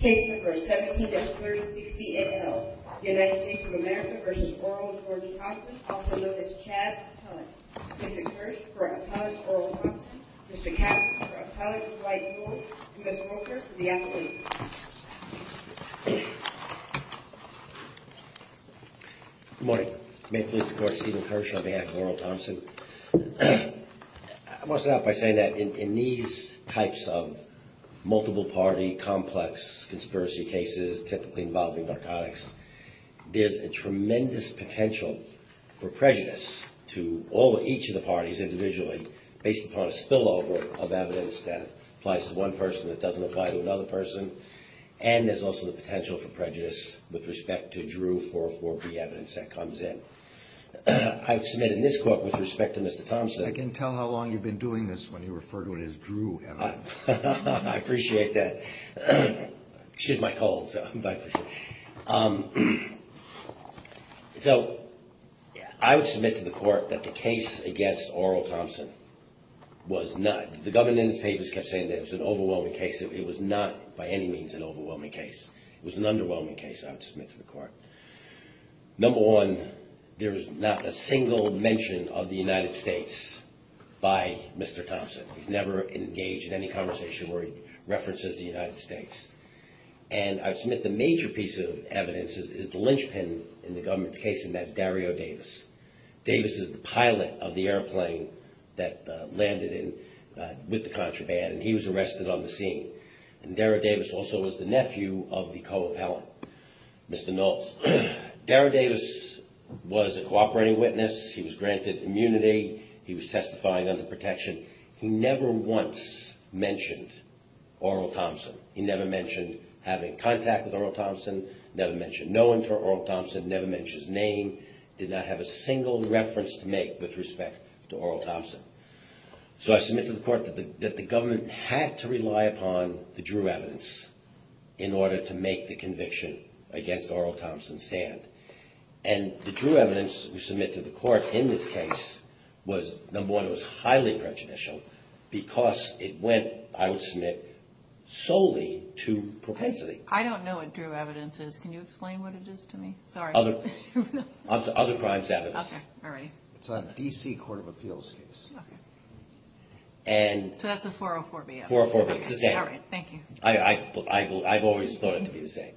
Good morning. May it please the court, Stephen Kirsch on behalf of Oral Thompson. I want to start by saying that in these types of multiple party, complex conspiracy cases, typically involving narcotics, there's a tremendous potential for prejudice to each of the parties individually, based upon a spillover of evidence that applies to one person that doesn't apply to another person. And there's also the potential for prejudice with respect to Drew 404B evidence that comes in. I've submitted in this court with respect to Mr. Thompson I can tell how long you've been doing this when you refer to it as Drew evidence. I appreciate that. Excuse my cold. So I would submit to the court that the case against Oral Thompson was not, the governance papers kept saying that it was an overwhelming case. It was not by any means an overwhelming case. It was an underwhelming case, I would submit to the court. Number one, there was not a single mention of the United States by Mr. Thompson. He's never engaged in any conversation where he references the United States. And I submit the major piece of evidence is the linchpin in the government's case, and that's Dario Davis. Davis is the pilot of the airplane that landed with the contraband, and he was arrested on the scene. And Dario Davis also was the nephew of the co-appellant, Mr. Knowles. Dario Davis was a cooperating witness. He was granted immunity. He was testifying under protection. He never once mentioned Oral Thompson. He never mentioned having contact with Oral Thompson, never mentioned knowing for Oral Thompson, never mentioned his name, did not have a single reference to make with respect to Oral Thompson. So I submit to the court that the government had to rely upon the Drew evidence in order to make the conviction against Oral Thompson stand. And the Drew evidence we submit to the court in this case was, number one, it was highly prejudicial because it went, I would submit, solely to propensity. I don't know what Drew evidence is. Can you explain what it is to me? Sorry. Other crimes evidence. Okay. All right. It's on a D.C. Court of Appeals case. Okay. So that's a 404B evidence. 404B. It's the same. All right. Thank you. I've always thought it to be the same.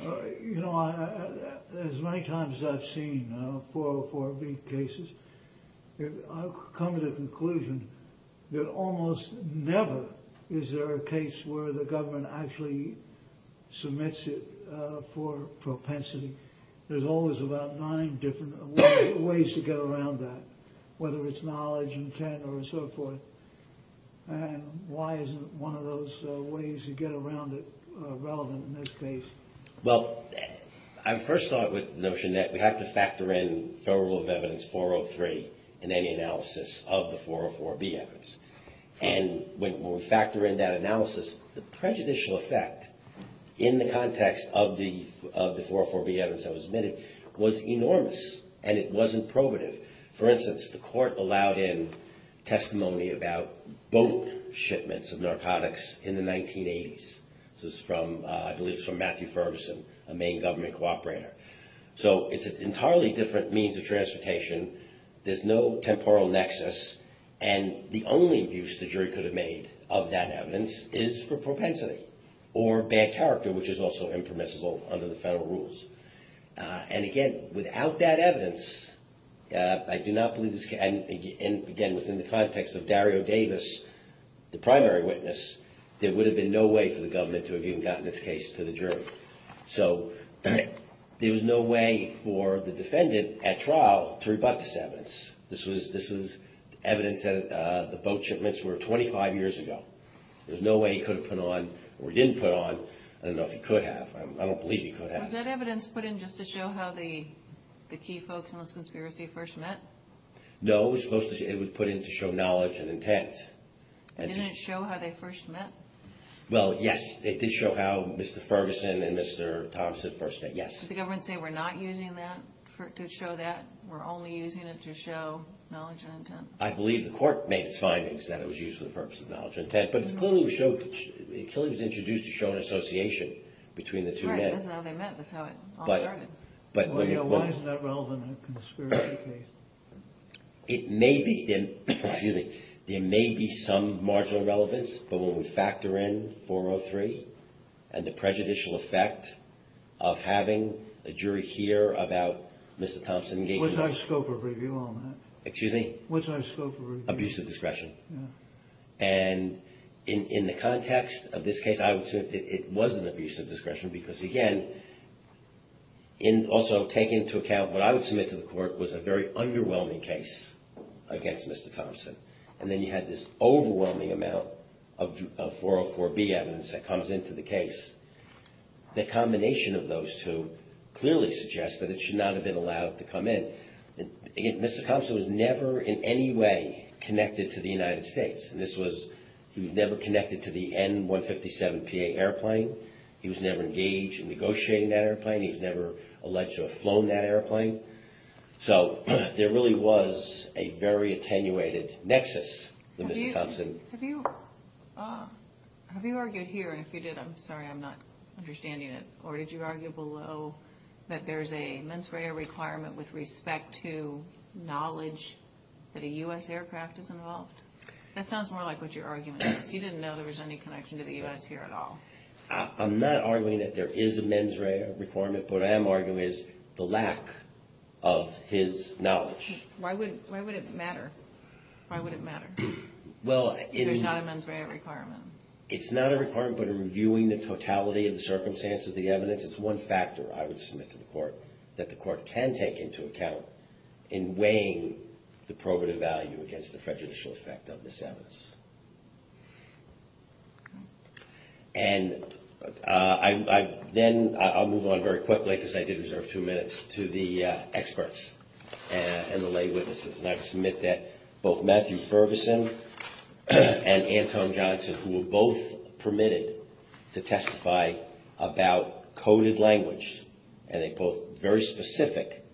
You know, as many times as I've seen 404B cases, I've come to the conclusion that almost never is there a case where the government actually submits it for propensity. There's always about nine different ways to get around that, whether it's knowledge, intent, or so forth. And why isn't one of those ways to get around it relevant in this case? Well, I first thought with the notion that we have to factor in Federal Rule of Evidence 403 in any analysis of the 404B evidence. And when we factor in that analysis, the prejudicial effect in the context of the 404B evidence that was submitted was enormous, and it wasn't probative. For instance, the court allowed in testimony about boat shipments of narcotics in the 1980s. This is from, I believe it's from Matthew Ferguson, a Maine government cooperator. So it's an entirely different means of transportation. There's no temporal nexus. And the only abuse the jury could have made of that evidence is for propensity or bad character, which is also impermissible under the Federal Rules. And again, without that evidence, I do not believe this can, again, within the context of Dario Davis, the primary witness, there would have been no way for the government to have even gotten this case to the jury. So there was no way for the defendant at trial to rebut this evidence. This was evidence that the boat shipments were 25 years ago. There's no way he could have put on, or he didn't put on, I don't know if he could have. I don't believe he could have. Was that evidence put in just to show how the key folks in this conspiracy first met? No, it was supposed to, it was put in to show knowledge and intent. And didn't it show how they first met? Well, yes, it did show how Mr. Ferguson and Mr. Thompson first met, yes. Did the government say, we're not using that to show that? We're only using it to show knowledge and intent? I believe the court made its findings that it was used for the purpose of knowledge and intent. It clearly was introduced to show an association between the two men. Right, that's how they met, that's how it all started. Why is that relevant in a conspiracy case? It may be, there may be some marginal relevance, but when we factor in 403 and the prejudicial effect of having a jury hear about Mr. Thompson engaging in this. What's our scope of review on that? Excuse me? What's our scope of review? Abusive discretion. And in the context of this case, I would say it was an abusive discretion because, again, also take into account what I would submit to the court was a very underwhelming case against Mr. Thompson. And then you had this overwhelming amount of 404B evidence that comes into the case. The combination of those two clearly suggests that it should not have been allowed to come in. Mr. Thompson was never in any way connected to the United States. And this was, he was never connected to the N-157PA airplane. He was never engaged in negotiating that airplane. He was never alleged to have flown that airplane. So there really was a very attenuated nexus with Mr. Thompson. Have you argued here, and if you did, I'm sorry, I'm not understanding it. Or did you argue below that there's a mens rea requirement with respect to knowledge that a U.S. aircraft is involved? That sounds more like what your argument is. You didn't know there was any connection to the U.S. here at all. I'm not arguing that there is a mens rea requirement. What I am arguing is the lack of his knowledge. Why would it matter? Why would it matter? There's not a mens rea requirement. It's not a requirement, but in reviewing the totality of the circumstances, the evidence, it's one factor I would submit to the court that the court can take into account in weighing the probative value against the prejudicial effect of this evidence. And then I'll move on very quickly, because I did reserve two minutes, to the experts and the lay witnesses. And I submit that both Matthew Ferguson and Anton Johnson, who were both permitted to testify about coded language, and they both had very specific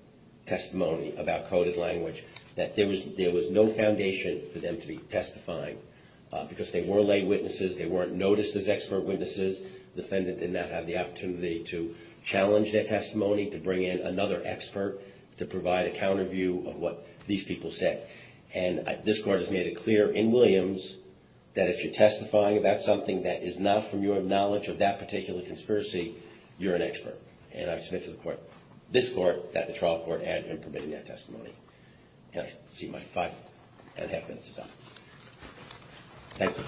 testimony about coded language, that there was no foundation for them to be testifying, because they were lay witnesses. They weren't noticed as expert witnesses. The defendant did not have the opportunity to challenge their testimony, to bring in another expert, to provide a counter view of what these people said. And this Court has made it clear in Williams that if you're testifying about something that is not from your knowledge of that particular conspiracy, you're an expert. And I submit to the Court, this Court, that the trial court had him permitting that testimony. And I'll see my five and a half minutes is up. Thank you.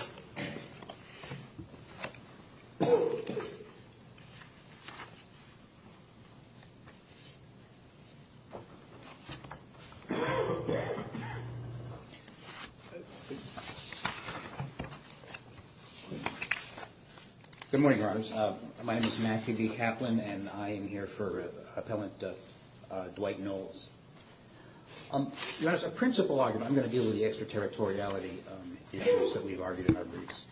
Good morning, Your Honors. My name is Matthew D. Kaplan, and I am here for Appellant Dwight Knowles. As a principal argument, I'm going to deal with the extraterritoriality issues that we've argued in our briefs.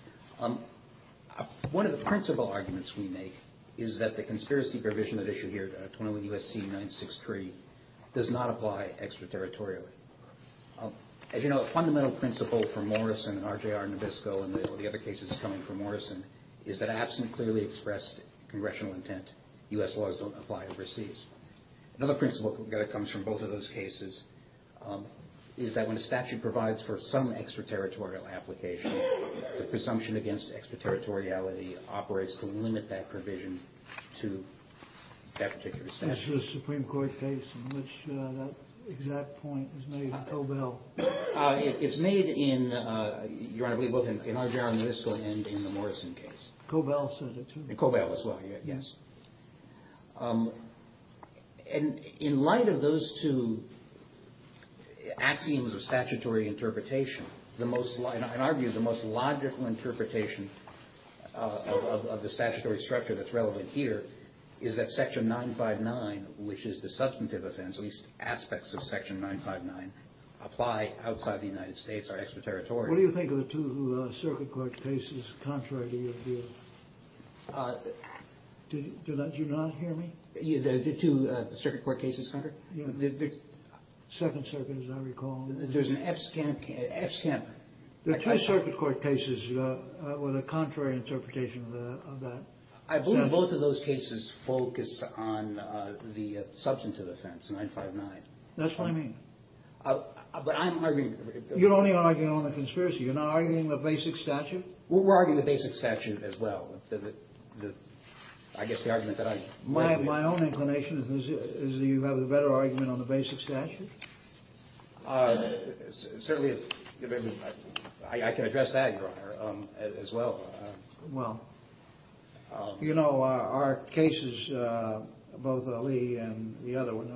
One of the principal arguments we make is that the conspiracy provision that is issued here, 201 U.S.C. 963, does not apply extraterritorially. As you know, a fundamental principle for Morrison and R.J.R. Nabisco and all the other cases coming from Morrison, is that absent clearly expressed congressional intent, U.S. laws don't apply overseas. Another principle that comes from both of those cases is that when a statute provides for some extraterritorial application, the presumption against extraterritoriality operates to limit that provision to that particular statute. That's the Supreme Court case in which that exact point is made in Cobell. It's made in, Your Honor, I believe both in R.J.R. Nabisco and in the Morrison case. Cobell said it too. In Cobell as well, yes. In light of those two axioms of statutory interpretation, in our view the most logical interpretation of the statutory structure that's relevant here, is that Section 959, which is the substantive offense, at least aspects of Section 959, apply outside the United States, are extraterritorial. What do you think of the two circuit court cases contrary to your view? Do you not hear me? The two circuit court cases contrary? Second Circuit, as I recall. There's an FSCAM. There are two circuit court cases with a contrary interpretation of that. I believe both of those cases focus on the substantive offense, 959. That's what I mean. But I'm arguing. You're only arguing on the conspiracy. You're not arguing the basic statute. We're arguing the basic statute as well. I guess the argument that I'm making. My own inclination is that you have a better argument on the basic statute. Certainly, I can address that, Your Honor, as well. Well, you know, our cases, both Ali and the other one,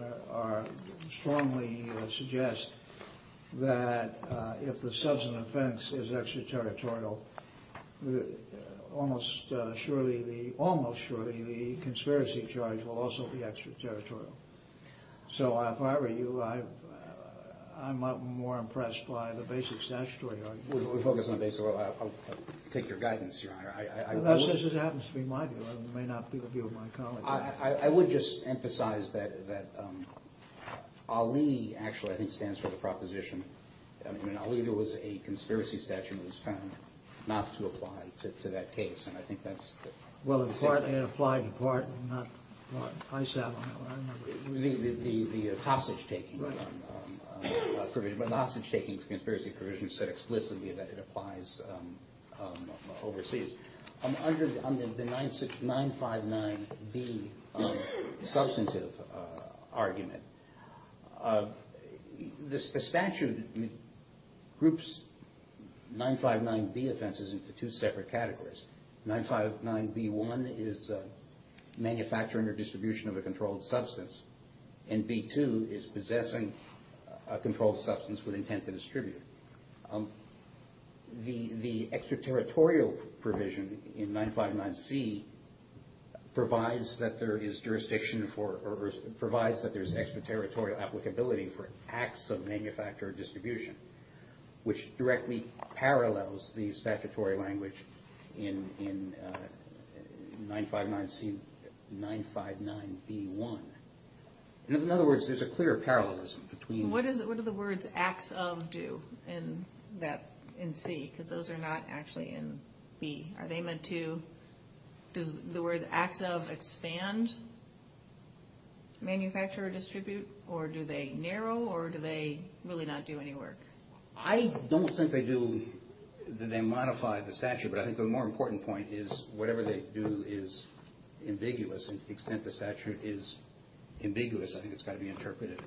strongly suggest that if the substantive offense is extraterritorial, almost surely the conspiracy charge will also be extraterritorial. So if I were you, I'm more impressed by the basic statutory argument. We'll focus on the basic rule. I'll take your guidance, Your Honor. As it happens to be my view. It may not be the view of my colleagues. I would just emphasize that Ali actually, I think, stands for the proposition. I mean, Ali, there was a conspiracy statute that was found not to apply to that case. And I think that's the same thing. Well, it applied in part. I sat on that one. The hostage-taking provision. But the hostage-taking conspiracy provision said explicitly that it applies overseas. Under the 959B substantive argument, the statute groups 959B offenses into two separate categories. 959B1 is manufacturing or distribution of a controlled substance. And B2 is possessing a controlled substance with intent to distribute. The extraterritorial provision in 959C provides that there is jurisdiction for or provides that there's extraterritorial applicability for acts of manufacture or distribution, which directly parallels the statutory language in 959C, 959B1. In other words, there's a clear parallelism between. And what do the words acts of do in C? Because those are not actually in B. Are they meant to, does the words acts of expand manufacture or distribute? Or do they narrow? Or do they really not do any work? I don't think they do, that they modify the statute. But I think the more important point is whatever they do is ambiguous. And to the extent the statute is ambiguous, I think it's got to be interpreted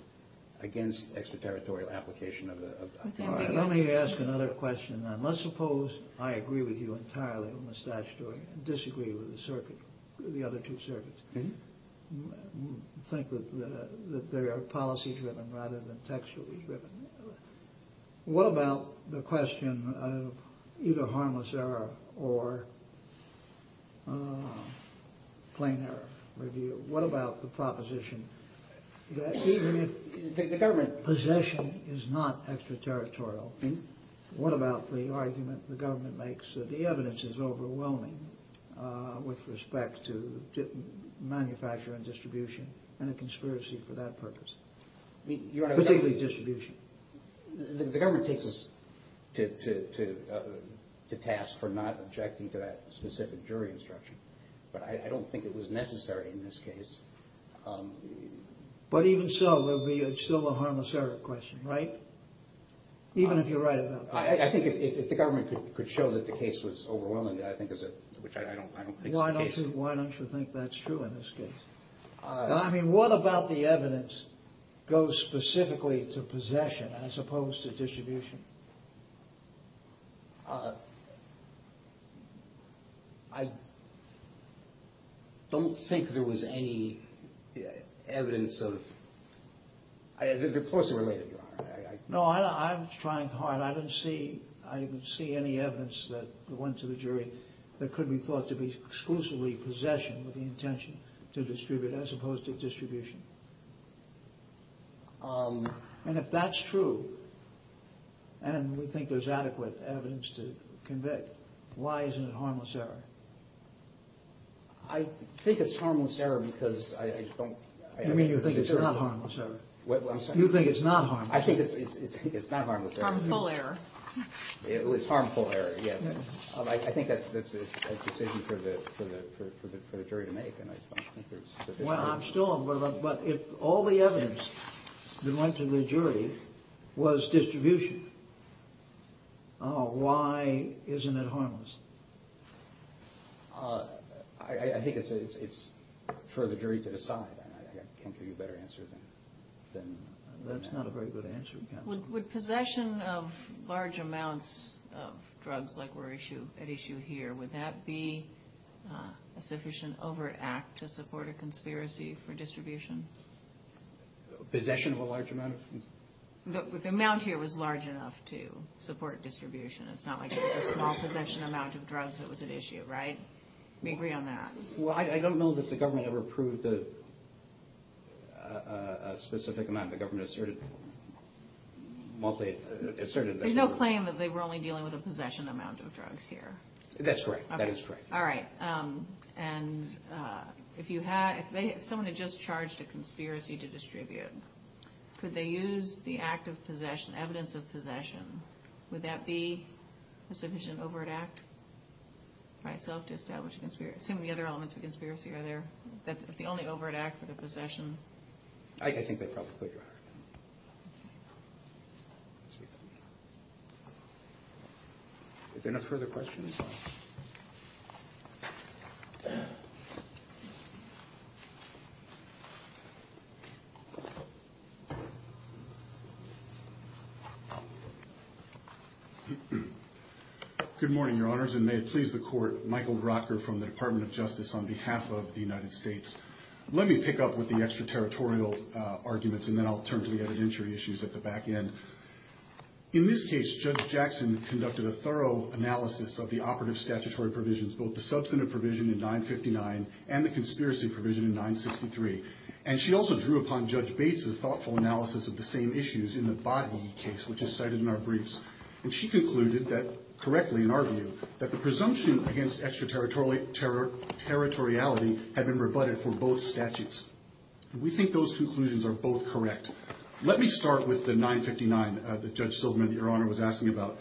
against extraterritorial application of the statute. All right, let me ask another question then. Let's suppose I agree with you entirely on the statutory and disagree with the circuit, the other two circuits. Think that they are policy driven rather than textually driven. What about the question of either harmless error or plain error review? What about the proposition that even if possession is not extraterritorial, what about the argument the government makes that the evidence is overwhelming with respect to manufacture and distribution and a conspiracy for that purpose, particularly distribution? The government takes us to task for not objecting to that specific jury instruction. But I don't think it was necessary in this case. But even so, it's still a harmless error question, right? Even if you're right about that. I think if the government could show that the case was overwhelming, which I don't think is the case. Why don't you think that's true in this case? I mean, what about the evidence goes specifically to possession as opposed to distribution? I don't think there was any evidence of – they're closely related. No, I'm trying hard. I didn't see any evidence that went to the jury that could be thought to be exclusively possession with the intention to distribute as opposed to distribution. And if that's true, and we think there's adequate evidence to convict, why isn't it harmless error? I think it's harmless error because I don't – You mean you think it's not harmless error? I'm sorry? You think it's not harmless error? I think it's not harmless error. Harmful error. It was harmful error, yes. I think that's a decision for the jury to make. Well, I'm still – but if all the evidence that went to the jury was distribution, why isn't it harmless? I think it's for the jury to decide. I can't give you a better answer than that. That's not a very good answer. Would possession of large amounts of drugs like were at issue here, would that be a sufficient overt act to support a conspiracy for distribution? Possession of a large amount? The amount here was large enough to support distribution. It's not like it was a small possession amount of drugs that was at issue, right? We agree on that. Well, I don't know that the government ever approved a specific amount. The government asserted – There's no claim that they were only dealing with a possession amount of drugs here. That's correct. That is correct. All right. And if someone had just charged a conspiracy to distribute, could they use the act of possession, evidence of possession, would that be a sufficient overt act by itself to establish a conspiracy? Assuming the other elements of a conspiracy are there, if the only overt act were the possession. I think they probably could, Your Honor. Okay. If there are no further questions. Good morning, Your Honors, and may it please the Court, Michael Grocker from the Department of Justice on behalf of the United States. Let me pick up with the extraterritorial arguments and then I'll turn to the evidentiary issues at the back end. In this case, Judge Jackson conducted a thorough analysis of the operative statutory provisions, both the substantive provision in 959 and the conspiracy provision in 963. And she also drew upon Judge Bates' thoughtful analysis of the same issues in the Boddie case, which is cited in our briefs. And she concluded that, correctly in our view, that the presumption against extraterritoriality had been rebutted for both statutes. We think those conclusions are both correct. Let me start with the 959 that Judge Silderman, Your Honor, was asking about.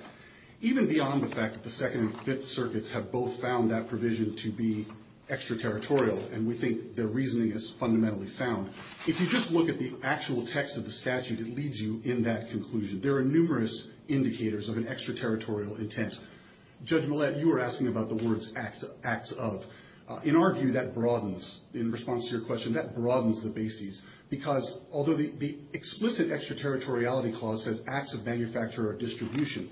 Even beyond the fact that the Second and Fifth Circuits have both found that provision to be extraterritorial, and we think their reasoning is fundamentally sound, if you just look at the actual text of the statute, it leads you in that conclusion. There are numerous indicators of an extraterritorial intent. Judge Millett, you were asking about the words, acts of. In our view, that broadens. In response to your question, that broadens the bases. Because although the explicit extraterritoriality clause says acts of manufacture or distribution,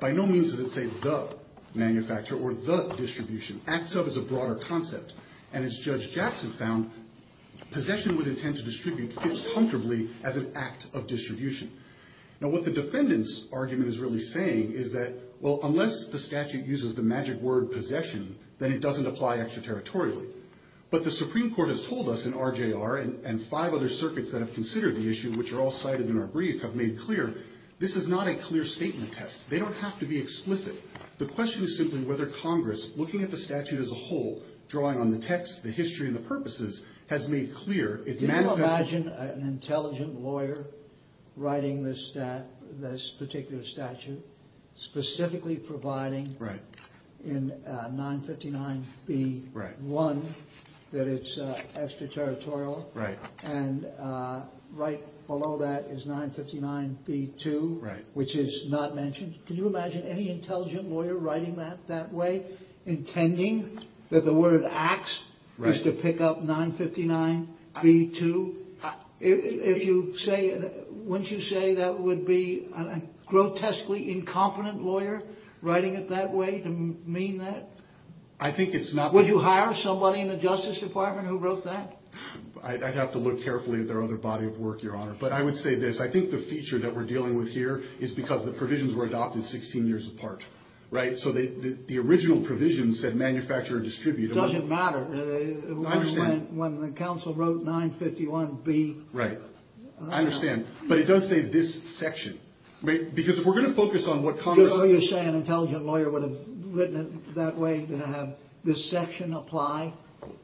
by no means does it say the manufacture or the distribution. Acts of is a broader concept. And as Judge Jackson found, possession with intent to distribute fits comfortably as an act of distribution. Now, what the defendant's argument is really saying is that, well, unless the statute uses the magic word possession, then it doesn't apply extraterritorially. But the Supreme Court has told us in RJR, and five other circuits that have considered the issue, which are all cited in our brief, have made clear, this is not a clear statement test. They don't have to be explicit. The question is simply whether Congress, looking at the statute as a whole, drawing on the text, the history, and the purposes, has made clear it manifests... Can you imagine an intelligent lawyer writing this particular statute, specifically providing in 959B1 that it's extraterritorial, and right below that is 959B2, which is not mentioned? Can you imagine any intelligent lawyer writing that that way, intending that the word acts is to pick up 959B2? Wouldn't you say that would be a grotesquely incompetent lawyer writing it that way to mean that? I think it's not... Would you hire somebody in the Justice Department who wrote that? I'd have to look carefully at their other body of work, Your Honor. But I would say this. I think the feature that we're dealing with here is because the provisions were adopted 16 years apart, right? So the original provisions said manufacture or distribute. It doesn't matter. I understand. When the counsel wrote 951B... Right. I understand. But it does say this section. Because if we're going to focus on what Congress... Would you say an intelligent lawyer would have written it that way, to have this section apply?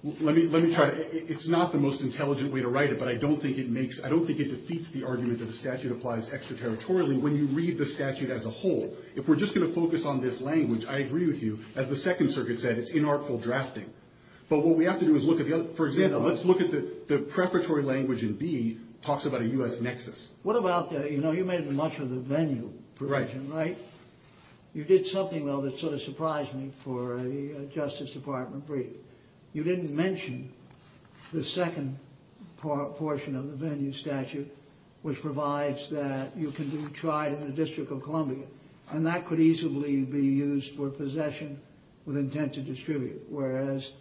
Let me try to... It's not the most intelligent way to write it, but I don't think it defeats the argument that the statute applies extraterritorially when you read the statute as a whole. If we're just going to focus on this language, I agree with you. As the Second Circuit said, it's inartful drafting. But what we have to do is look at the other... For example, let's look at the preparatory language in B talks about a U.S. nexus. What about the... You know, you made much of the venue provision, right? You did something, though, that sort of surprised me for a Justice Department brief. You didn't mention the second portion of the venue statute, which provides that you can be tried in the District of Columbia, and that could easily be used for possession with intent to distribute, whereas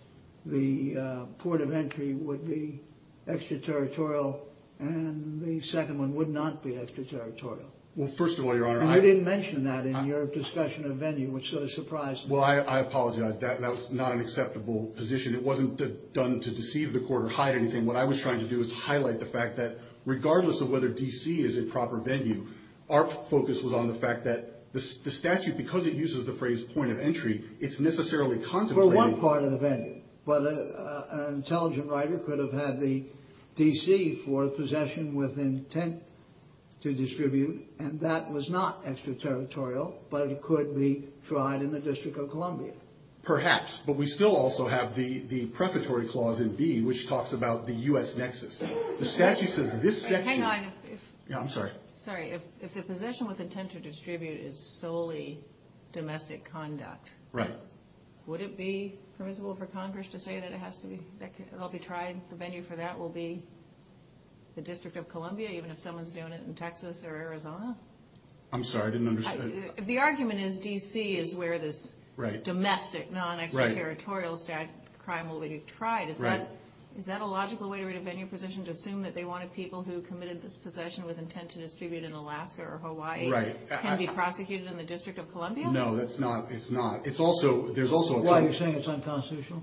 the port of entry would be extraterritorial and the second one would not be extraterritorial. Well, first of all, Your Honor, I... And you didn't mention that in your discussion of venue, which sort of surprised me. Well, I apologize. That was not an acceptable position. It wasn't done to deceive the court or hide anything. What I was trying to do is highlight the fact that, regardless of whether D.C. is a proper venue, our focus was on the fact that the statute, because it uses the phrase point of entry, it's necessarily contemplating... For one part of the venue. But an intelligent writer could have had the D.C. for possession with intent to distribute, and that was not extraterritorial, but it could be tried in the District of Columbia. Perhaps. But we still also have the prefatory clause in B, which talks about the U.S. nexus. The statute says this section... Hang on. Yeah, I'm sorry. Sorry. If the possession with intent to distribute is solely domestic conduct... Right. ...would it be permissible for Congress to say that it has to be... It'll be tried? The venue for that will be the District of Columbia, even if someone's doing it in Texas or Arizona? I'm sorry. I didn't understand. The argument is D.C. is where this domestic, non-extraterritorial crime will be tried. Right. Is that a logical way to read a venue position, to assume that they wanted people who committed this possession with intent to distribute in Alaska or Hawaii... Right. ...can be prosecuted in the District of Columbia? No, that's not. It's not. There's also... Why? Are you saying it's unconstitutional?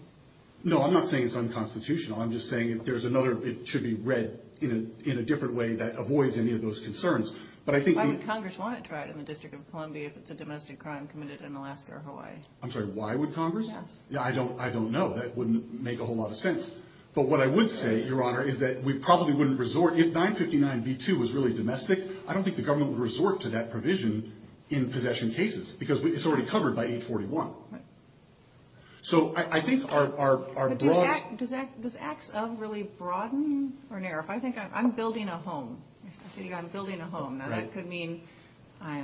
No, I'm not saying it's unconstitutional. I'm just saying it should be read in a different way that avoids any of those concerns. But I think the... Why would Congress want it tried in the District of Columbia if it's a domestic crime committed in Alaska or Hawaii? I'm sorry. Why would Congress? Yes. I don't know. That wouldn't make a whole lot of sense. But what I would say, Your Honor, is that we probably wouldn't resort... If 959b2 was really domestic, I don't think the government would resort to that provision in possession cases because it's already covered by 841. Right. So I think our broad... But does acts of really broaden or narrow? If I think I'm building a home, if I say I'm building a home... Right. ...now that could mean I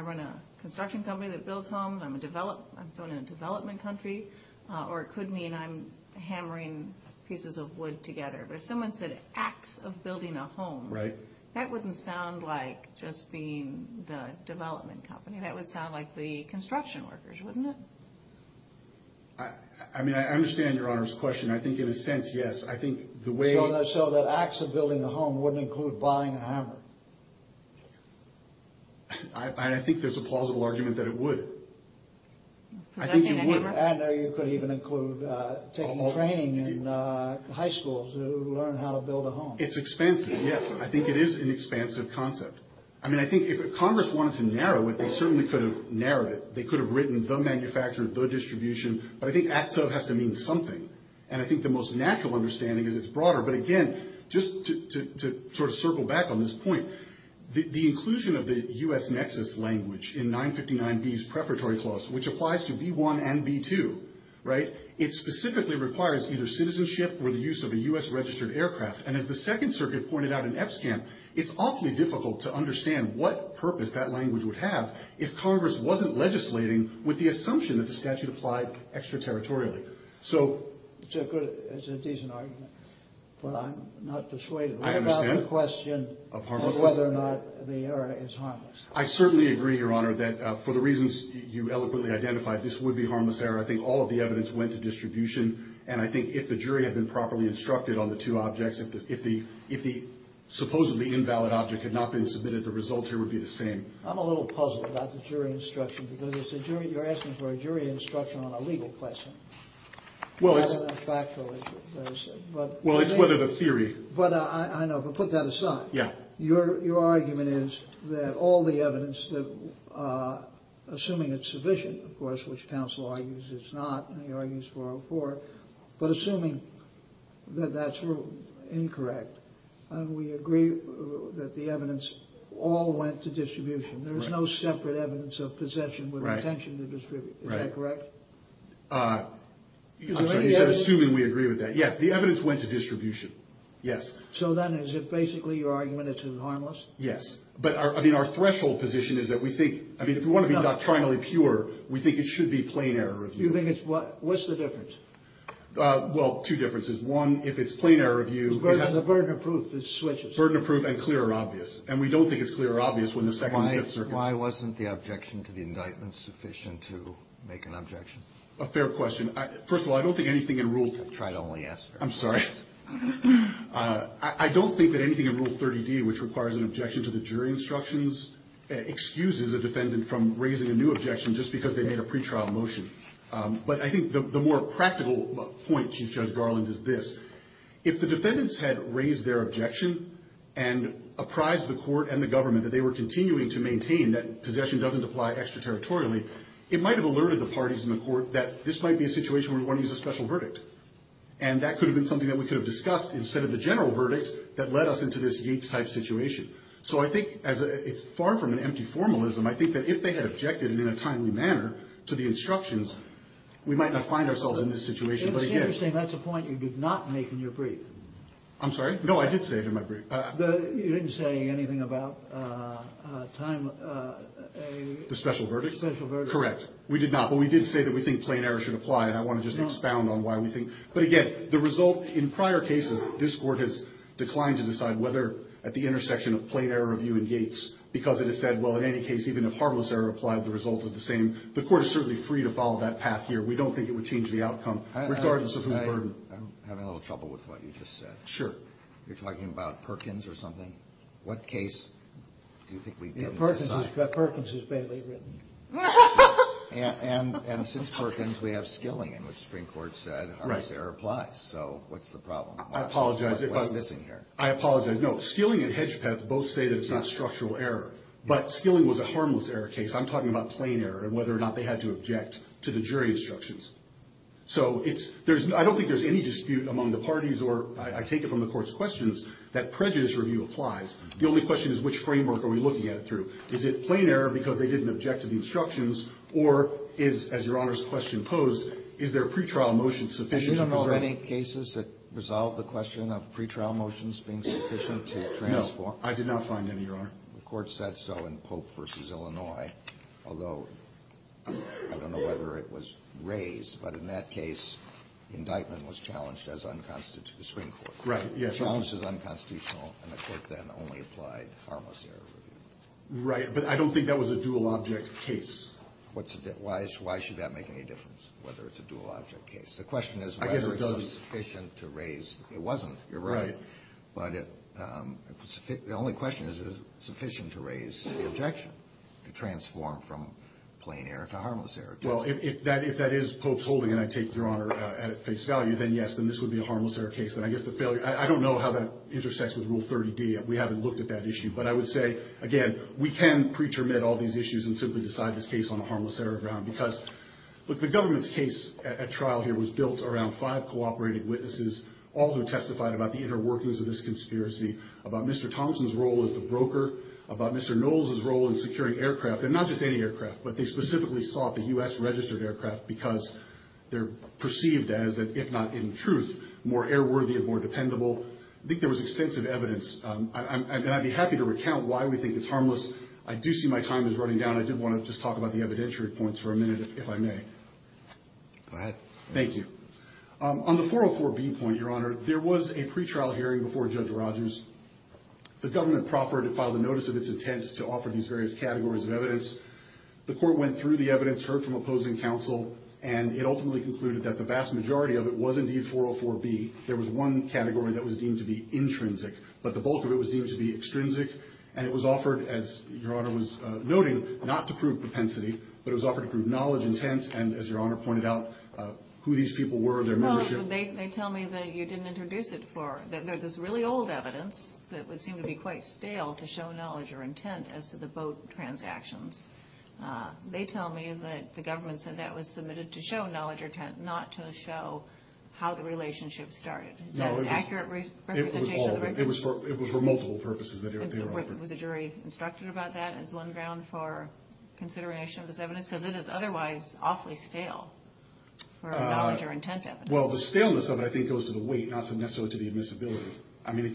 run a construction company that builds homes, I'm in a development country, or it could mean I'm hammering pieces of wood together. But if someone said acts of building a home... Right. ...that wouldn't sound like just being the development company. That would sound like the construction workers, wouldn't it? I mean, I understand Your Honor's question. I think, in a sense, yes. I think the way... So that acts of building a home wouldn't include buying a hammer? I think there's a plausible argument that it would. Possessing a hammer? And you could even include taking training in high school to learn how to build a home. It's expansive, yes. I think it is an expansive concept. I mean, I think if Congress wanted to narrow it, they certainly could have narrowed it. They could have written the manufacturer, the distribution. But I think acts of has to mean something. And I think the most natural understanding is it's broader. But, again, just to sort of circle back on this point, the inclusion of the U.S. nexus language in 959B's preparatory clause, which applies to B-1 and B-2, right? It specifically requires either citizenship or the use of a U.S.-registered aircraft. And as the Second Circuit pointed out in EPSCAM, it's awfully difficult to understand what purpose that language would have if Congress wasn't legislating with the assumption that the statute applied extraterritorially. So... It's a good... It's a decent argument. But I'm not persuaded. I understand. What about the question of whether or not the error is harmless? I certainly agree, Your Honor, that for the reasons you eloquently identified, this would be harmless error. I think all of the evidence went to distribution. And I think if the jury had been properly instructed on the two objects, if the supposedly invalid object had not been submitted, the results here would be the same. I'm a little puzzled about the jury instruction because you're asking for a jury instruction on a legal question, rather than a factual issue. Well, it's whether the theory... But I know, but put that aside. Yeah. Your argument is that all the evidence that... Assuming it's sufficient, of course, which counsel argues it's not, and he argues 404, but assuming that that's incorrect, we agree that the evidence all went to distribution. There's no separate evidence of possession with intention to distribute. Right. Is that correct? I'm sorry, you said assuming we agree with that. Yes, the evidence went to distribution. Yes. So then is it basically your argument it's harmless? Yes. But, I mean, our threshold position is that we think... I mean, if we want to be doctrinally pure, we think it should be plain error review. You think it's... What's the difference? Well, two differences. One, if it's plain error review... The burden of proof, it switches. Burden of proof and clear or obvious. And we don't think it's clear or obvious when the second and fifth circuits... Why wasn't the objection to the indictment sufficient to make an objection? A fair question. First of all, I don't think anything in rule... I try to only answer. I'm sorry. I don't think that anything in rule 30D, which requires an objection to the jury instructions, excuses a defendant from raising a new objection just because they made a pretrial motion. But I think the more practical point, Chief Judge Garland, is this. If the defendants had raised their objection and apprised the court and the government that they were continuing to maintain that possession doesn't apply extraterritorially, it might have alerted the parties in the court that this might be a situation where we want to use a special verdict. And that could have been something that we could have discussed instead of the general verdict that led us into this Yates-type situation. So I think it's far from an empty formalism. I think that if they had objected in a timely manner to the instructions, we might not find ourselves in this situation. It's interesting. That's a point you did not make in your brief. I'm sorry? No, I did say it in my brief. You didn't say anything about time... The special verdict? The special verdict. Correct. We did not. But we did say that we think plain error should apply. And I want to just expound on why we think. But again, the result in prior cases, this court has declined to decide whether at the intersection of plain error review and Yates because it has said, well, in any case, even if harmless error applied, the result is the same. The court is certainly free to follow that path here. We don't think it would change the outcome regardless of who's burdened. I'm having a little trouble with what you just said. Sure. You're talking about Perkins or something? What case do you think we've been assigned? Perkins is barely written. And since Perkins, we have Skilling in which the Supreme Court said harmless error applies. So what's the problem? I apologize. What's missing here? I apologize. No, Skilling and Hedgepeth both say that it's not structural error. But Skilling was a harmless error case. I'm talking about plain error and whether or not they had to object to the jury instructions. So I don't think there's any dispute among the parties, or I take it from the court's questions, that prejudice review applies. The only question is which framework are we looking at it through? Is it plain error because they didn't object to the instructions, or is, as Your Honor's question posed, is their pretrial motion sufficient? Do you know of any cases that resolve the question of pretrial motions being sufficient to transform? No. I did not find any, Your Honor. The court said so in Pope v. Illinois, although I don't know whether it was raised. But in that case, the indictment was challenged as unconstitutional. The Supreme Court. Right. Yes. Challenged as unconstitutional, and the court then only applied harmless error Right, but I don't think that was a dual object case. Why should that make any difference, whether it's a dual object case? I guess it does. The question is whether it's sufficient to raise. It wasn't, you're right. Right. But the only question is, is it sufficient to raise the objection to transform from plain error to harmless error? Well, if that is Pope's holding, and I take, Your Honor, at face value, then yes, then this would be a harmless error case. And I guess the failure, I don't know how that intersects with Rule 30D. We haven't looked at that issue. But I would say, again, we can pretermit all these issues and simply decide this case on a harmless error ground. Because, look, the government's case at trial here was built around five cooperating witnesses, all who testified about the inner workings of this conspiracy, about Mr. Thomson's role as the broker, about Mr. Knowles' role in securing aircraft, and not just any aircraft, but they specifically sought the U.S. registered aircraft because they're perceived as, if not in truth, more airworthy and more dependable. I think there was extensive evidence. And I'd be happy to recount why we think it's harmless. I do see my time is running down. I did want to just talk about the evidentiary points for a minute, if I may. Go ahead. Thank you. On the 404B point, Your Honor, there was a pretrial hearing before Judge Rogers. The government proffered to file the notice of its intent to offer these various categories of evidence. The court went through the evidence, heard from opposing counsel, and it ultimately concluded that the vast majority of it was indeed 404B. There was one category that was deemed to be intrinsic, but the bulk of it was deemed to be extrinsic. And it was offered, as Your Honor was noting, not to prove propensity, but it was offered to prove knowledge, intent, and, as Your Honor pointed out, who these people were, their membership. Well, they tell me that you didn't introduce it for this really old evidence that would seem to be quite stale to show knowledge or intent as to the boat transactions. They tell me that the government said that was submitted to show knowledge or intent, not to show how the relationship started. Is that an accurate representation of the record? No, it was all of it. It was for multiple purposes that they were offered. Was a jury instructed about that as one ground for consideration of this evidence? Because it is otherwise awfully stale for knowledge or intent evidence. Well, the staleness of it, I think, goes to the weight, not necessarily to the admissibility. I mean,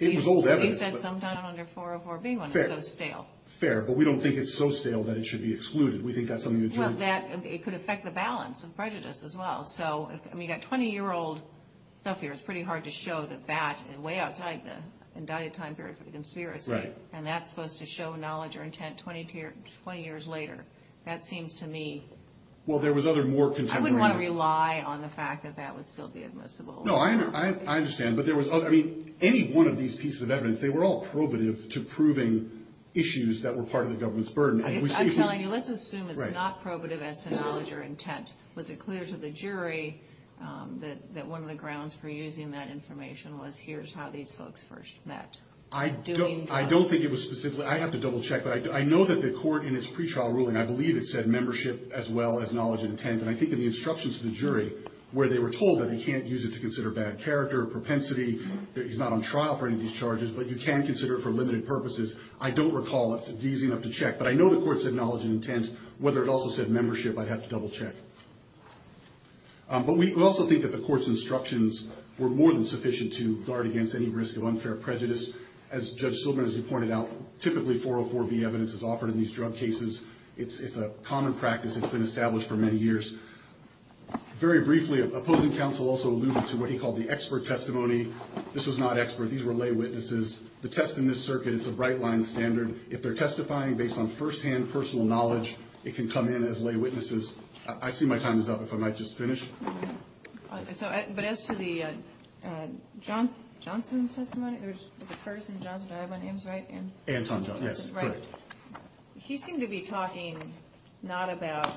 it was old evidence. You said sometime on your 404B one, it's so stale. Fair, but we don't think it's so stale that it should be excluded. We think that's something that you would... Well, it could affect the balance of prejudice as well. I mean, you've got 20-year-old stuff here. It's pretty hard to show that that, way outside the indicted time period for the conspiracy, and that's supposed to show knowledge or intent 20 years later. That seems to me... Well, there was other more contemporary... I wouldn't want to rely on the fact that that would still be admissible. No, I understand. But there was other... I mean, any one of these pieces of evidence, they were all probative to proving issues that were part of the government's burden. I'm telling you, let's assume it's not probative as to knowledge or intent. Was it clear to the jury that one of the grounds for using that information was here's how these folks first met? I don't think it was specifically... I have to double-check, but I know that the court in its pretrial ruling, I believe it said membership as well as knowledge and intent, and I think in the instructions to the jury where they were told that they can't use it to consider bad character, propensity, that he's not on trial for any of these charges, I don't recall it being easy enough to check. But I know the court said knowledge and intent. Whether it also said membership, I'd have to double-check. But we also think that the court's instructions were more than sufficient to guard against any risk of unfair prejudice. As Judge Silverman has pointed out, typically 404B evidence is offered in these drug cases. It's a common practice. It's been established for many years. Very briefly, opposing counsel also alluded to what he called the expert testimony. This was not expert. These were lay witnesses. The test in this circuit, it's a bright line standard. If they're testifying based on firsthand personal knowledge, it can come in as lay witnesses. I see my time is up. If I might just finish. But as to the Johnson testimony, there's a person, Johnson, do I have my names right? Anton Johnson, yes. Correct. He seemed to be talking not about,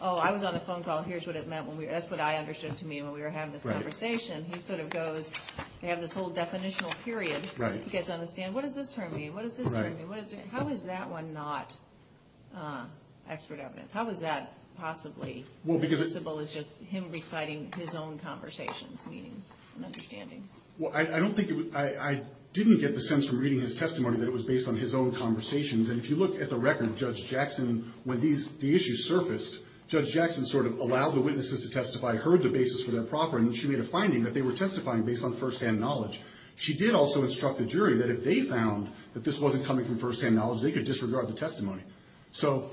oh, I was on the phone call, here's what it meant, that's what I understood it to mean when we were having this conversation. He sort of goes, they have this whole definitional period. You guys understand? What does this term mean? Correct. How is that one not expert evidence? How is that possibly noticeable as just him reciting his own conversations, meanings and understanding? Well, I didn't get the sense from reading his testimony that it was based on his own conversations. And if you look at the record, Judge Jackson, when the issues surfaced, Judge Jackson sort of allowed the witnesses to testify, heard the basis for their proffering, and she made a finding that they were testifying based on firsthand knowledge. She did also instruct the jury that if they found that this wasn't coming from firsthand knowledge, they could disregard the testimony. So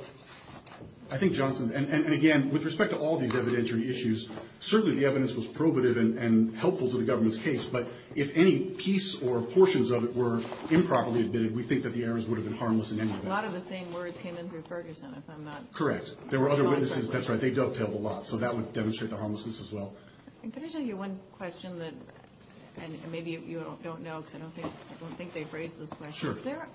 I think Johnson, and again, with respect to all these evidentiary issues, certainly the evidence was probative and helpful to the government's case, but if any piece or portions of it were improperly admitted, we think that the errors would have been harmless in any event. A lot of the same words came in through Ferguson, if I'm not wrong. Correct. There were other witnesses, that's right, they dovetailed a lot. So that would demonstrate the harmlessness as well. Could I just ask you one question, and maybe you don't know, because I don't think they've raised this question. Is there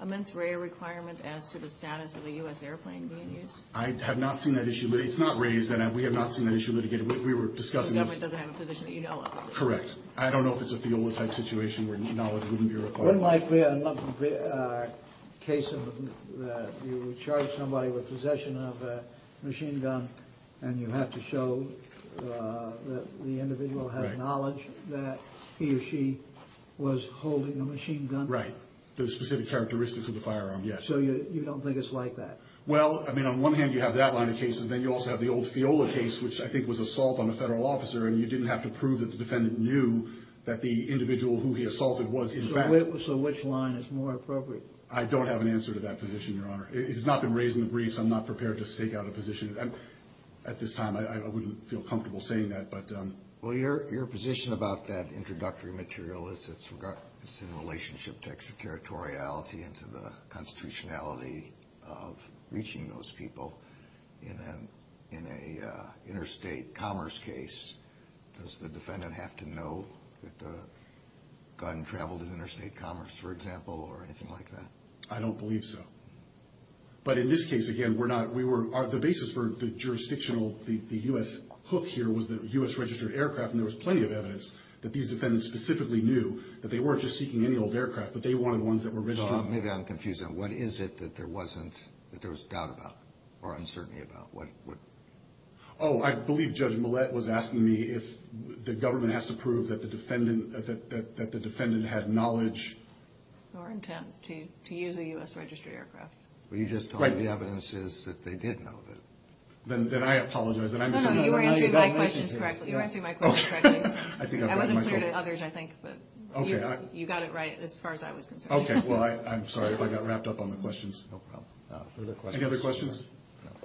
a mens rea requirement as to the status of a U.S. airplane being used? I have not seen that issue. It's not raised, and we have not seen that issue litigated. We were discussing this. The government doesn't have a position that you know of? Correct. I don't know if it's a FIOLA-type situation where knowledge wouldn't be required. Wouldn't it be a case where you charge somebody with possession of a machine gun and you have to show that the individual has knowledge that he or she was holding a machine gun? Right. The specific characteristics of the firearm, yes. So you don't think it's like that? Well, I mean, on one hand you have that line of cases, then you also have the old FIOLA case, which I think was assault on a federal officer, and you didn't have to prove that the defendant knew that the individual who he assaulted was in fact... So which line is more appropriate? I don't have an answer to that position, Your Honor. It has not been raised in the briefs. I'm not prepared to stake out a position. At this time, I wouldn't feel comfortable saying that. Well, your position about that introductory material is it's in relationship to extraterritoriality and to the constitutionality of reaching those people. In an interstate commerce case, does the defendant have to know that the gun traveled in interstate commerce, for example, or anything like that? I don't believe so. But in this case, again, we're not... The basis for the jurisdictional, the U.S. hook here, was the U.S. registered aircraft, and there was plenty of evidence that these defendants specifically knew that they weren't just seeking any old aircraft, but they wanted ones that were registered. Maybe I'm confusing. What is it that there was doubt about or uncertainty about? Oh, I believe Judge Millett was asking me if the government has to prove that the defendant had knowledge... or intent to use a U.S. registered aircraft. Well, you just told me the evidence is that they did know that. Then I apologize. No, no, you were answering my questions correctly. You were answering my questions correctly. I wasn't clear to others, I think, but you got it right, as far as I was concerned. Okay, well, I'm sorry if I got wrapped up on the questions. No problem. Any other questions?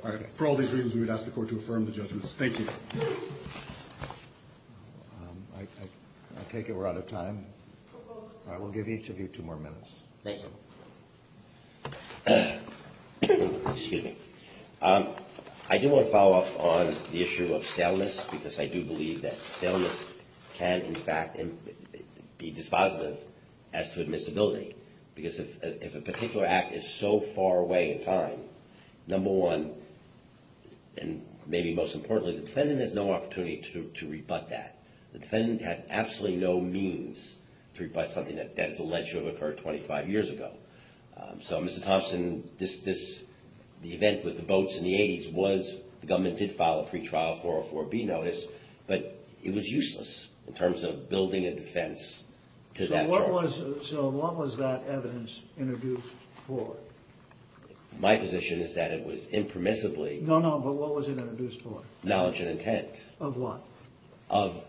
All right, for all these reasons, we would ask the court to affirm the judgments. Thank you. I take it we're out of time. We'll give each of you two more minutes. Thank you. Excuse me. I do want to follow up on the issue of staleness because I do believe that staleness can, in fact, be dispositive as to admissibility because if a particular act is so far away in time, number one, and maybe most importantly, the defendant has no opportunity to rebut that. The defendant had absolutely no means to rebut something that is alleged to have occurred 25 years ago. So, Mr. Thompson, the event with the boats in the 80s was the government did file a pretrial 404B notice, but it was useless in terms of building a defense to that charge. So what was that evidence introduced for? My position is that it was impermissibly. No, no, but what was it introduced for? Knowledge and intent. Of what? Of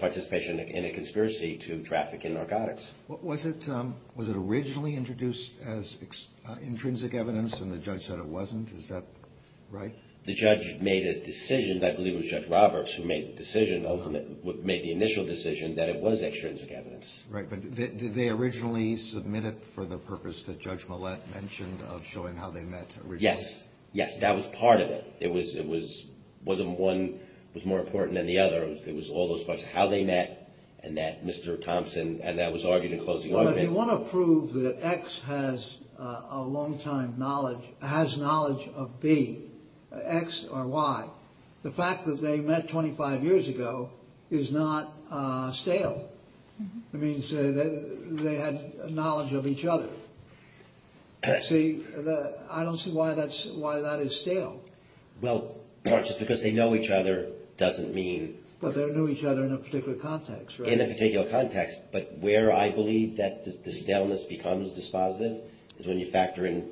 participation in a conspiracy to traffic in narcotics. Was it originally introduced as intrinsic evidence and the judge said it wasn't? Is that right? The judge made a decision, I believe it was Judge Roberts, who made the initial decision that it was extrinsic evidence. Right, but did they originally submit it for the purpose that Judge Millett mentioned of showing how they met originally? Yes. Yes, that was part of it. One was more important than the other. It was all those parts. How they met and that Mr. Thompson, and that was argued in closing argument. You want to prove that X has a long-time knowledge, has knowledge of B, X or Y. The fact that they met 25 years ago is not stale. It means they had knowledge of each other. See, I don't see why that is stale. Well, just because they know each other doesn't mean... But they knew each other in a particular context, right? In a particular context. But where I believe that the staleness becomes dispositive is when you factor in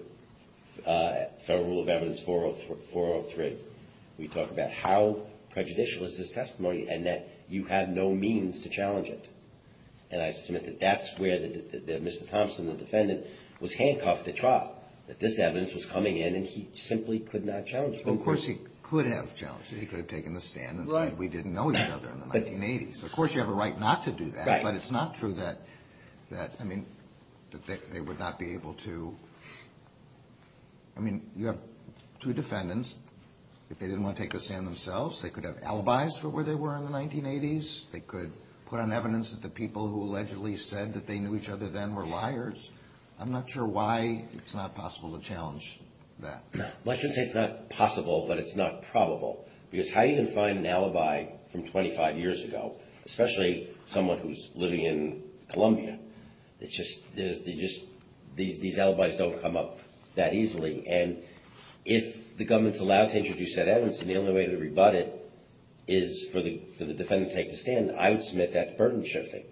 Federal Rule of Evidence 403. We talk about how prejudicial is this testimony and that you have no means to challenge it. And I submit that that's where Mr. Thompson, the defendant, was handcuffed to trial. That this evidence was coming in and he simply could not challenge it. Well, of course he could have challenged it. He could have taken the stand and said we didn't know each other in the 1980s. Of course you have a right not to do that. Right. But it's not true that they would not be able to... I mean, you have two defendants. If they didn't want to take the stand themselves, they could have alibis for where they were in the 1980s. They could put on evidence that the people who allegedly said that they knew each other then were liars. I'm not sure why it's not possible to challenge that. Well, I shouldn't say it's not possible, but it's not probable. Because how are you going to find an alibi from 25 years ago, especially someone who's living in Columbia? These alibis don't come up that easily. And if the government's allowed to introduce said evidence and the only way to rebut it is for the defendant to take the stand, I would submit that's burden shifting.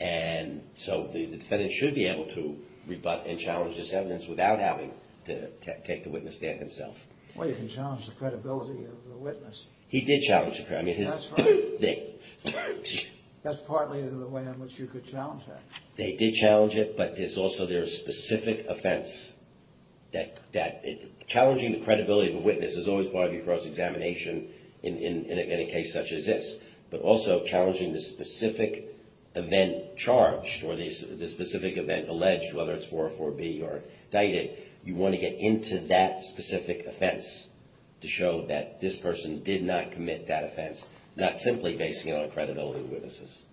And so the defendant should be able to rebut and challenge this evidence without having to take the witness stand himself. Well, you can challenge the credibility of the witness. He did challenge the credibility. That's right. That's partly the way in which you could challenge that. They did challenge it, but there's also their specific offense. Challenging the credibility of a witness is always part of your cross-examination in a case such as this. But also challenging the specific event charged or the specific event alleged, whether it's 404B or Dited, you want to get into that specific offense to show that this person did not commit that offense, not simply based on credibility of the witnesses.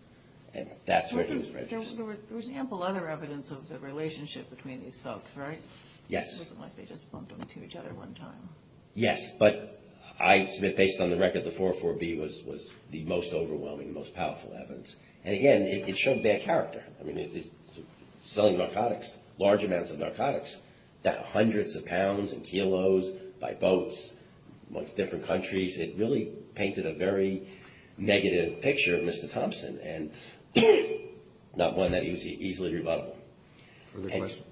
And that's where there's prejudice. There was ample other evidence of the relationship between these folks, right? Yes. It wasn't like they just bumped into each other one time. Yes, but I submit based on the record the 404B was the most overwhelming, the most powerful evidence. And again, it showed bad character. I mean, selling narcotics, large amounts of narcotics, hundreds of pounds and kilos by boats amongst different countries, it really painted a very negative picture of Mr. Thompson. And not one that was easily rebuttable. Further questions?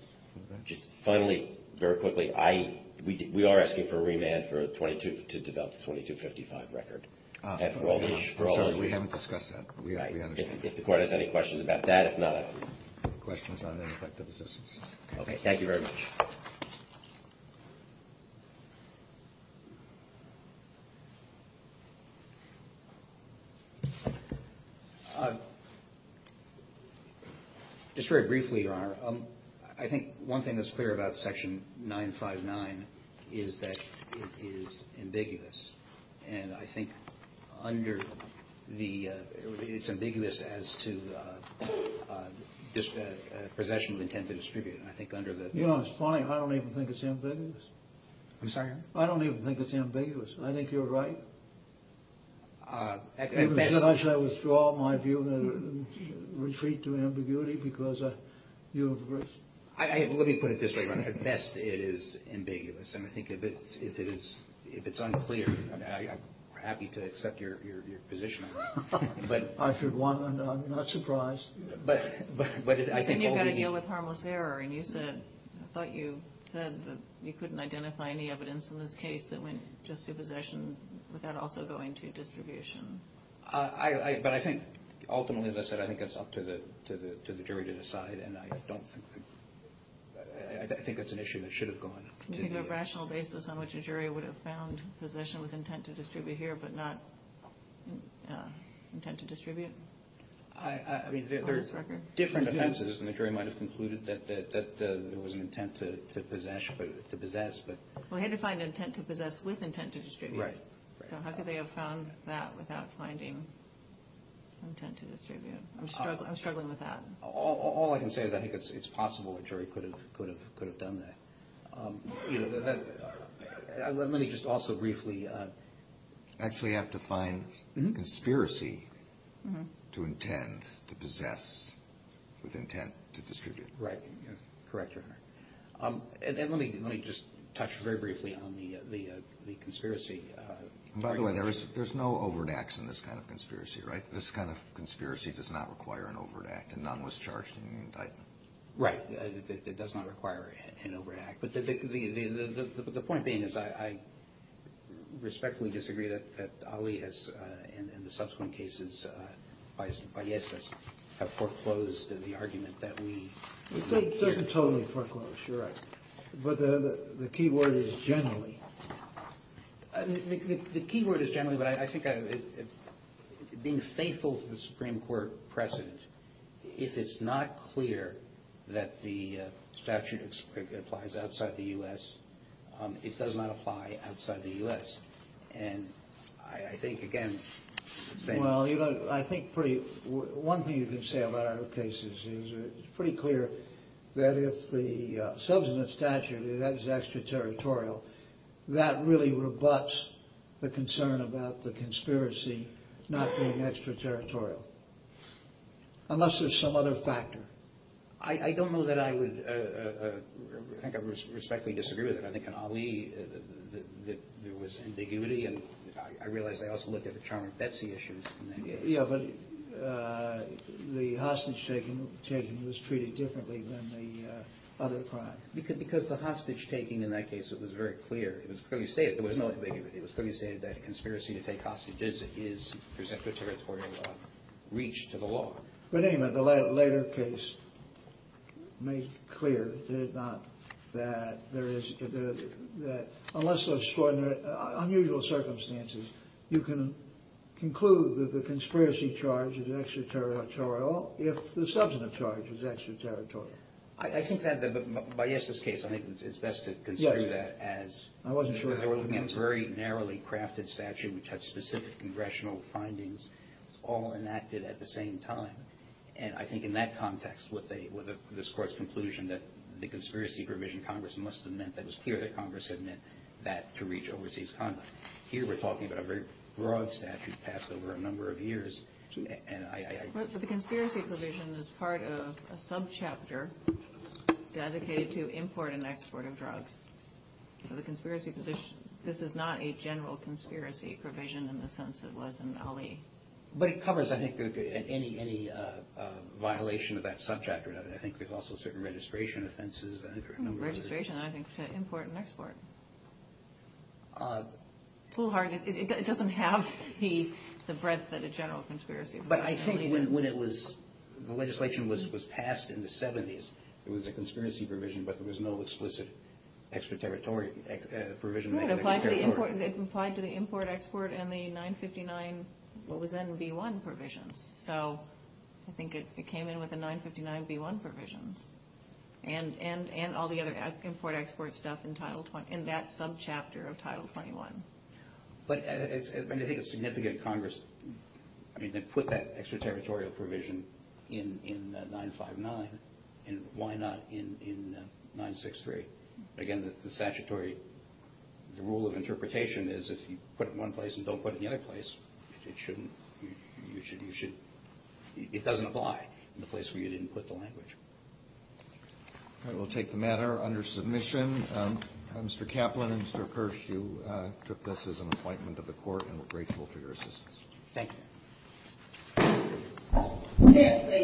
Finally, very quickly, we are asking for a remand to develop the 2255 record. I'm sorry. We haven't discussed that. We understand. If the Court has any questions about that, if not, I agree. Any questions on ineffective assistance? Okay. Thank you very much. Just very briefly, Your Honor, I think one thing that's clear about Section 959 is that it is ambiguous. And I think it's ambiguous as to possession of intent to distribute. You know, it's funny. I don't even think it's ambiguous. I'm sorry? I don't even think it's ambiguous. I think you're right. Should I withdraw my view and retreat to ambiguity because you're the person? Let me put it this way, Your Honor. At best, it is ambiguous. And I think if it's unclear, I'm happy to accept your position on it. I should want one. I'm not surprised. But I think all the— Then you've got to deal with harmless error. And you said, I thought you said that you couldn't identify any evidence in this case that went just to possession without also going to distribution. But I think ultimately, as I said, I think it's up to the jury to decide. And I don't think—I think that's an issue that should have gone to the jury. Can you think of a rational basis on which a jury would have found possession with intent to distribute here but not intent to distribute on this record? I mean, there are different offenses, and the jury might have concluded that there was an intent to possess. Well, he had to find intent to possess with intent to distribute. Right. So how could they have found that without finding intent to distribute? I'm struggling with that. All I can say is I think it's possible a jury could have done that. Let me just also briefly— Actually have to find conspiracy to intent to possess with intent to distribute. Right. Correct, Your Honor. And let me just touch very briefly on the conspiracy. By the way, there's no overt acts in this kind of conspiracy, right? This kind of conspiracy does not require an overt act, and none was charged in the indictment. Right. It does not require an overt act. But the point being is I respectfully disagree that Ali has, in the subsequent cases, has foreclosed the argument that we— It doesn't totally foreclose, Your Honor, but the key word is generally. The key word is generally, but I think being faithful to the Supreme Court precedent, if it's not clear that the statute applies outside the U.S., it does not apply outside the U.S. And I think, again— Well, you know, I think pretty—one thing you can say about our cases is it's pretty clear that if the subsequent statute is extraterritorial, that really rebuts the concern about the conspiracy not being extraterritorial, unless there's some other factor. I don't know that I would—I think I respectfully disagree with that. I think in Ali, there was ambiguity, and I realize they also looked at the Charm and Betsy issues in that case. Yeah, but the hostage-taking was treated differently than the other crime. Because the hostage-taking in that case, it was very clear. It was clearly stated there was no ambiguity. It was clearly stated that a conspiracy to take hostages is, per se, extraterritorial reach to the law. But anyway, the later case made clear that there is— that unless there's unusual circumstances, you can conclude that the conspiracy charge is extraterritorial if the substantive charge is extraterritorial. I think that the—Byesta's case, I think it's best to consider that as— I wasn't sure— They were looking at a very narrowly crafted statute which had specific congressional findings. It was all enacted at the same time. And I think in that context, with this Court's conclusion that the conspiracy provision, Congress must have meant that it was clear that Congress had meant that to reach overseas conduct. Here, we're talking about a very broad statute passed over a number of years, and I— But the conspiracy provision is part of a subchapter dedicated to import and export of drugs. So the conspiracy position—this is not a general conspiracy provision in the sense it was in Ali. But it covers, I think, any violation of that subchapter. I think there's also certain registration offenses. Registration, I think, for import and export. It's a little hard. It doesn't have the breadth that a general conspiracy— But I think when it was—the legislation was passed in the 70s, it was a conspiracy provision, but there was no explicit extra-territorial provision. It applied to the import-export and the 959, what was then V1 provisions. So I think it came in with the 959 V1 provisions. And all the other import-export stuff in that subchapter of Title 21. But I think a significant Congress— So why not put it in 959, and why not in 963? Again, the statutory—the rule of interpretation is if you put it in one place and don't put it in the other place, it shouldn't—you should—it doesn't apply in the place where you didn't put the language. All right. We'll take the matter under submission. Mr. Kaplan and Mr. Kirsch, you took this as an appointment to the Court, and we're grateful for your assistance. Thank you. Stand, please.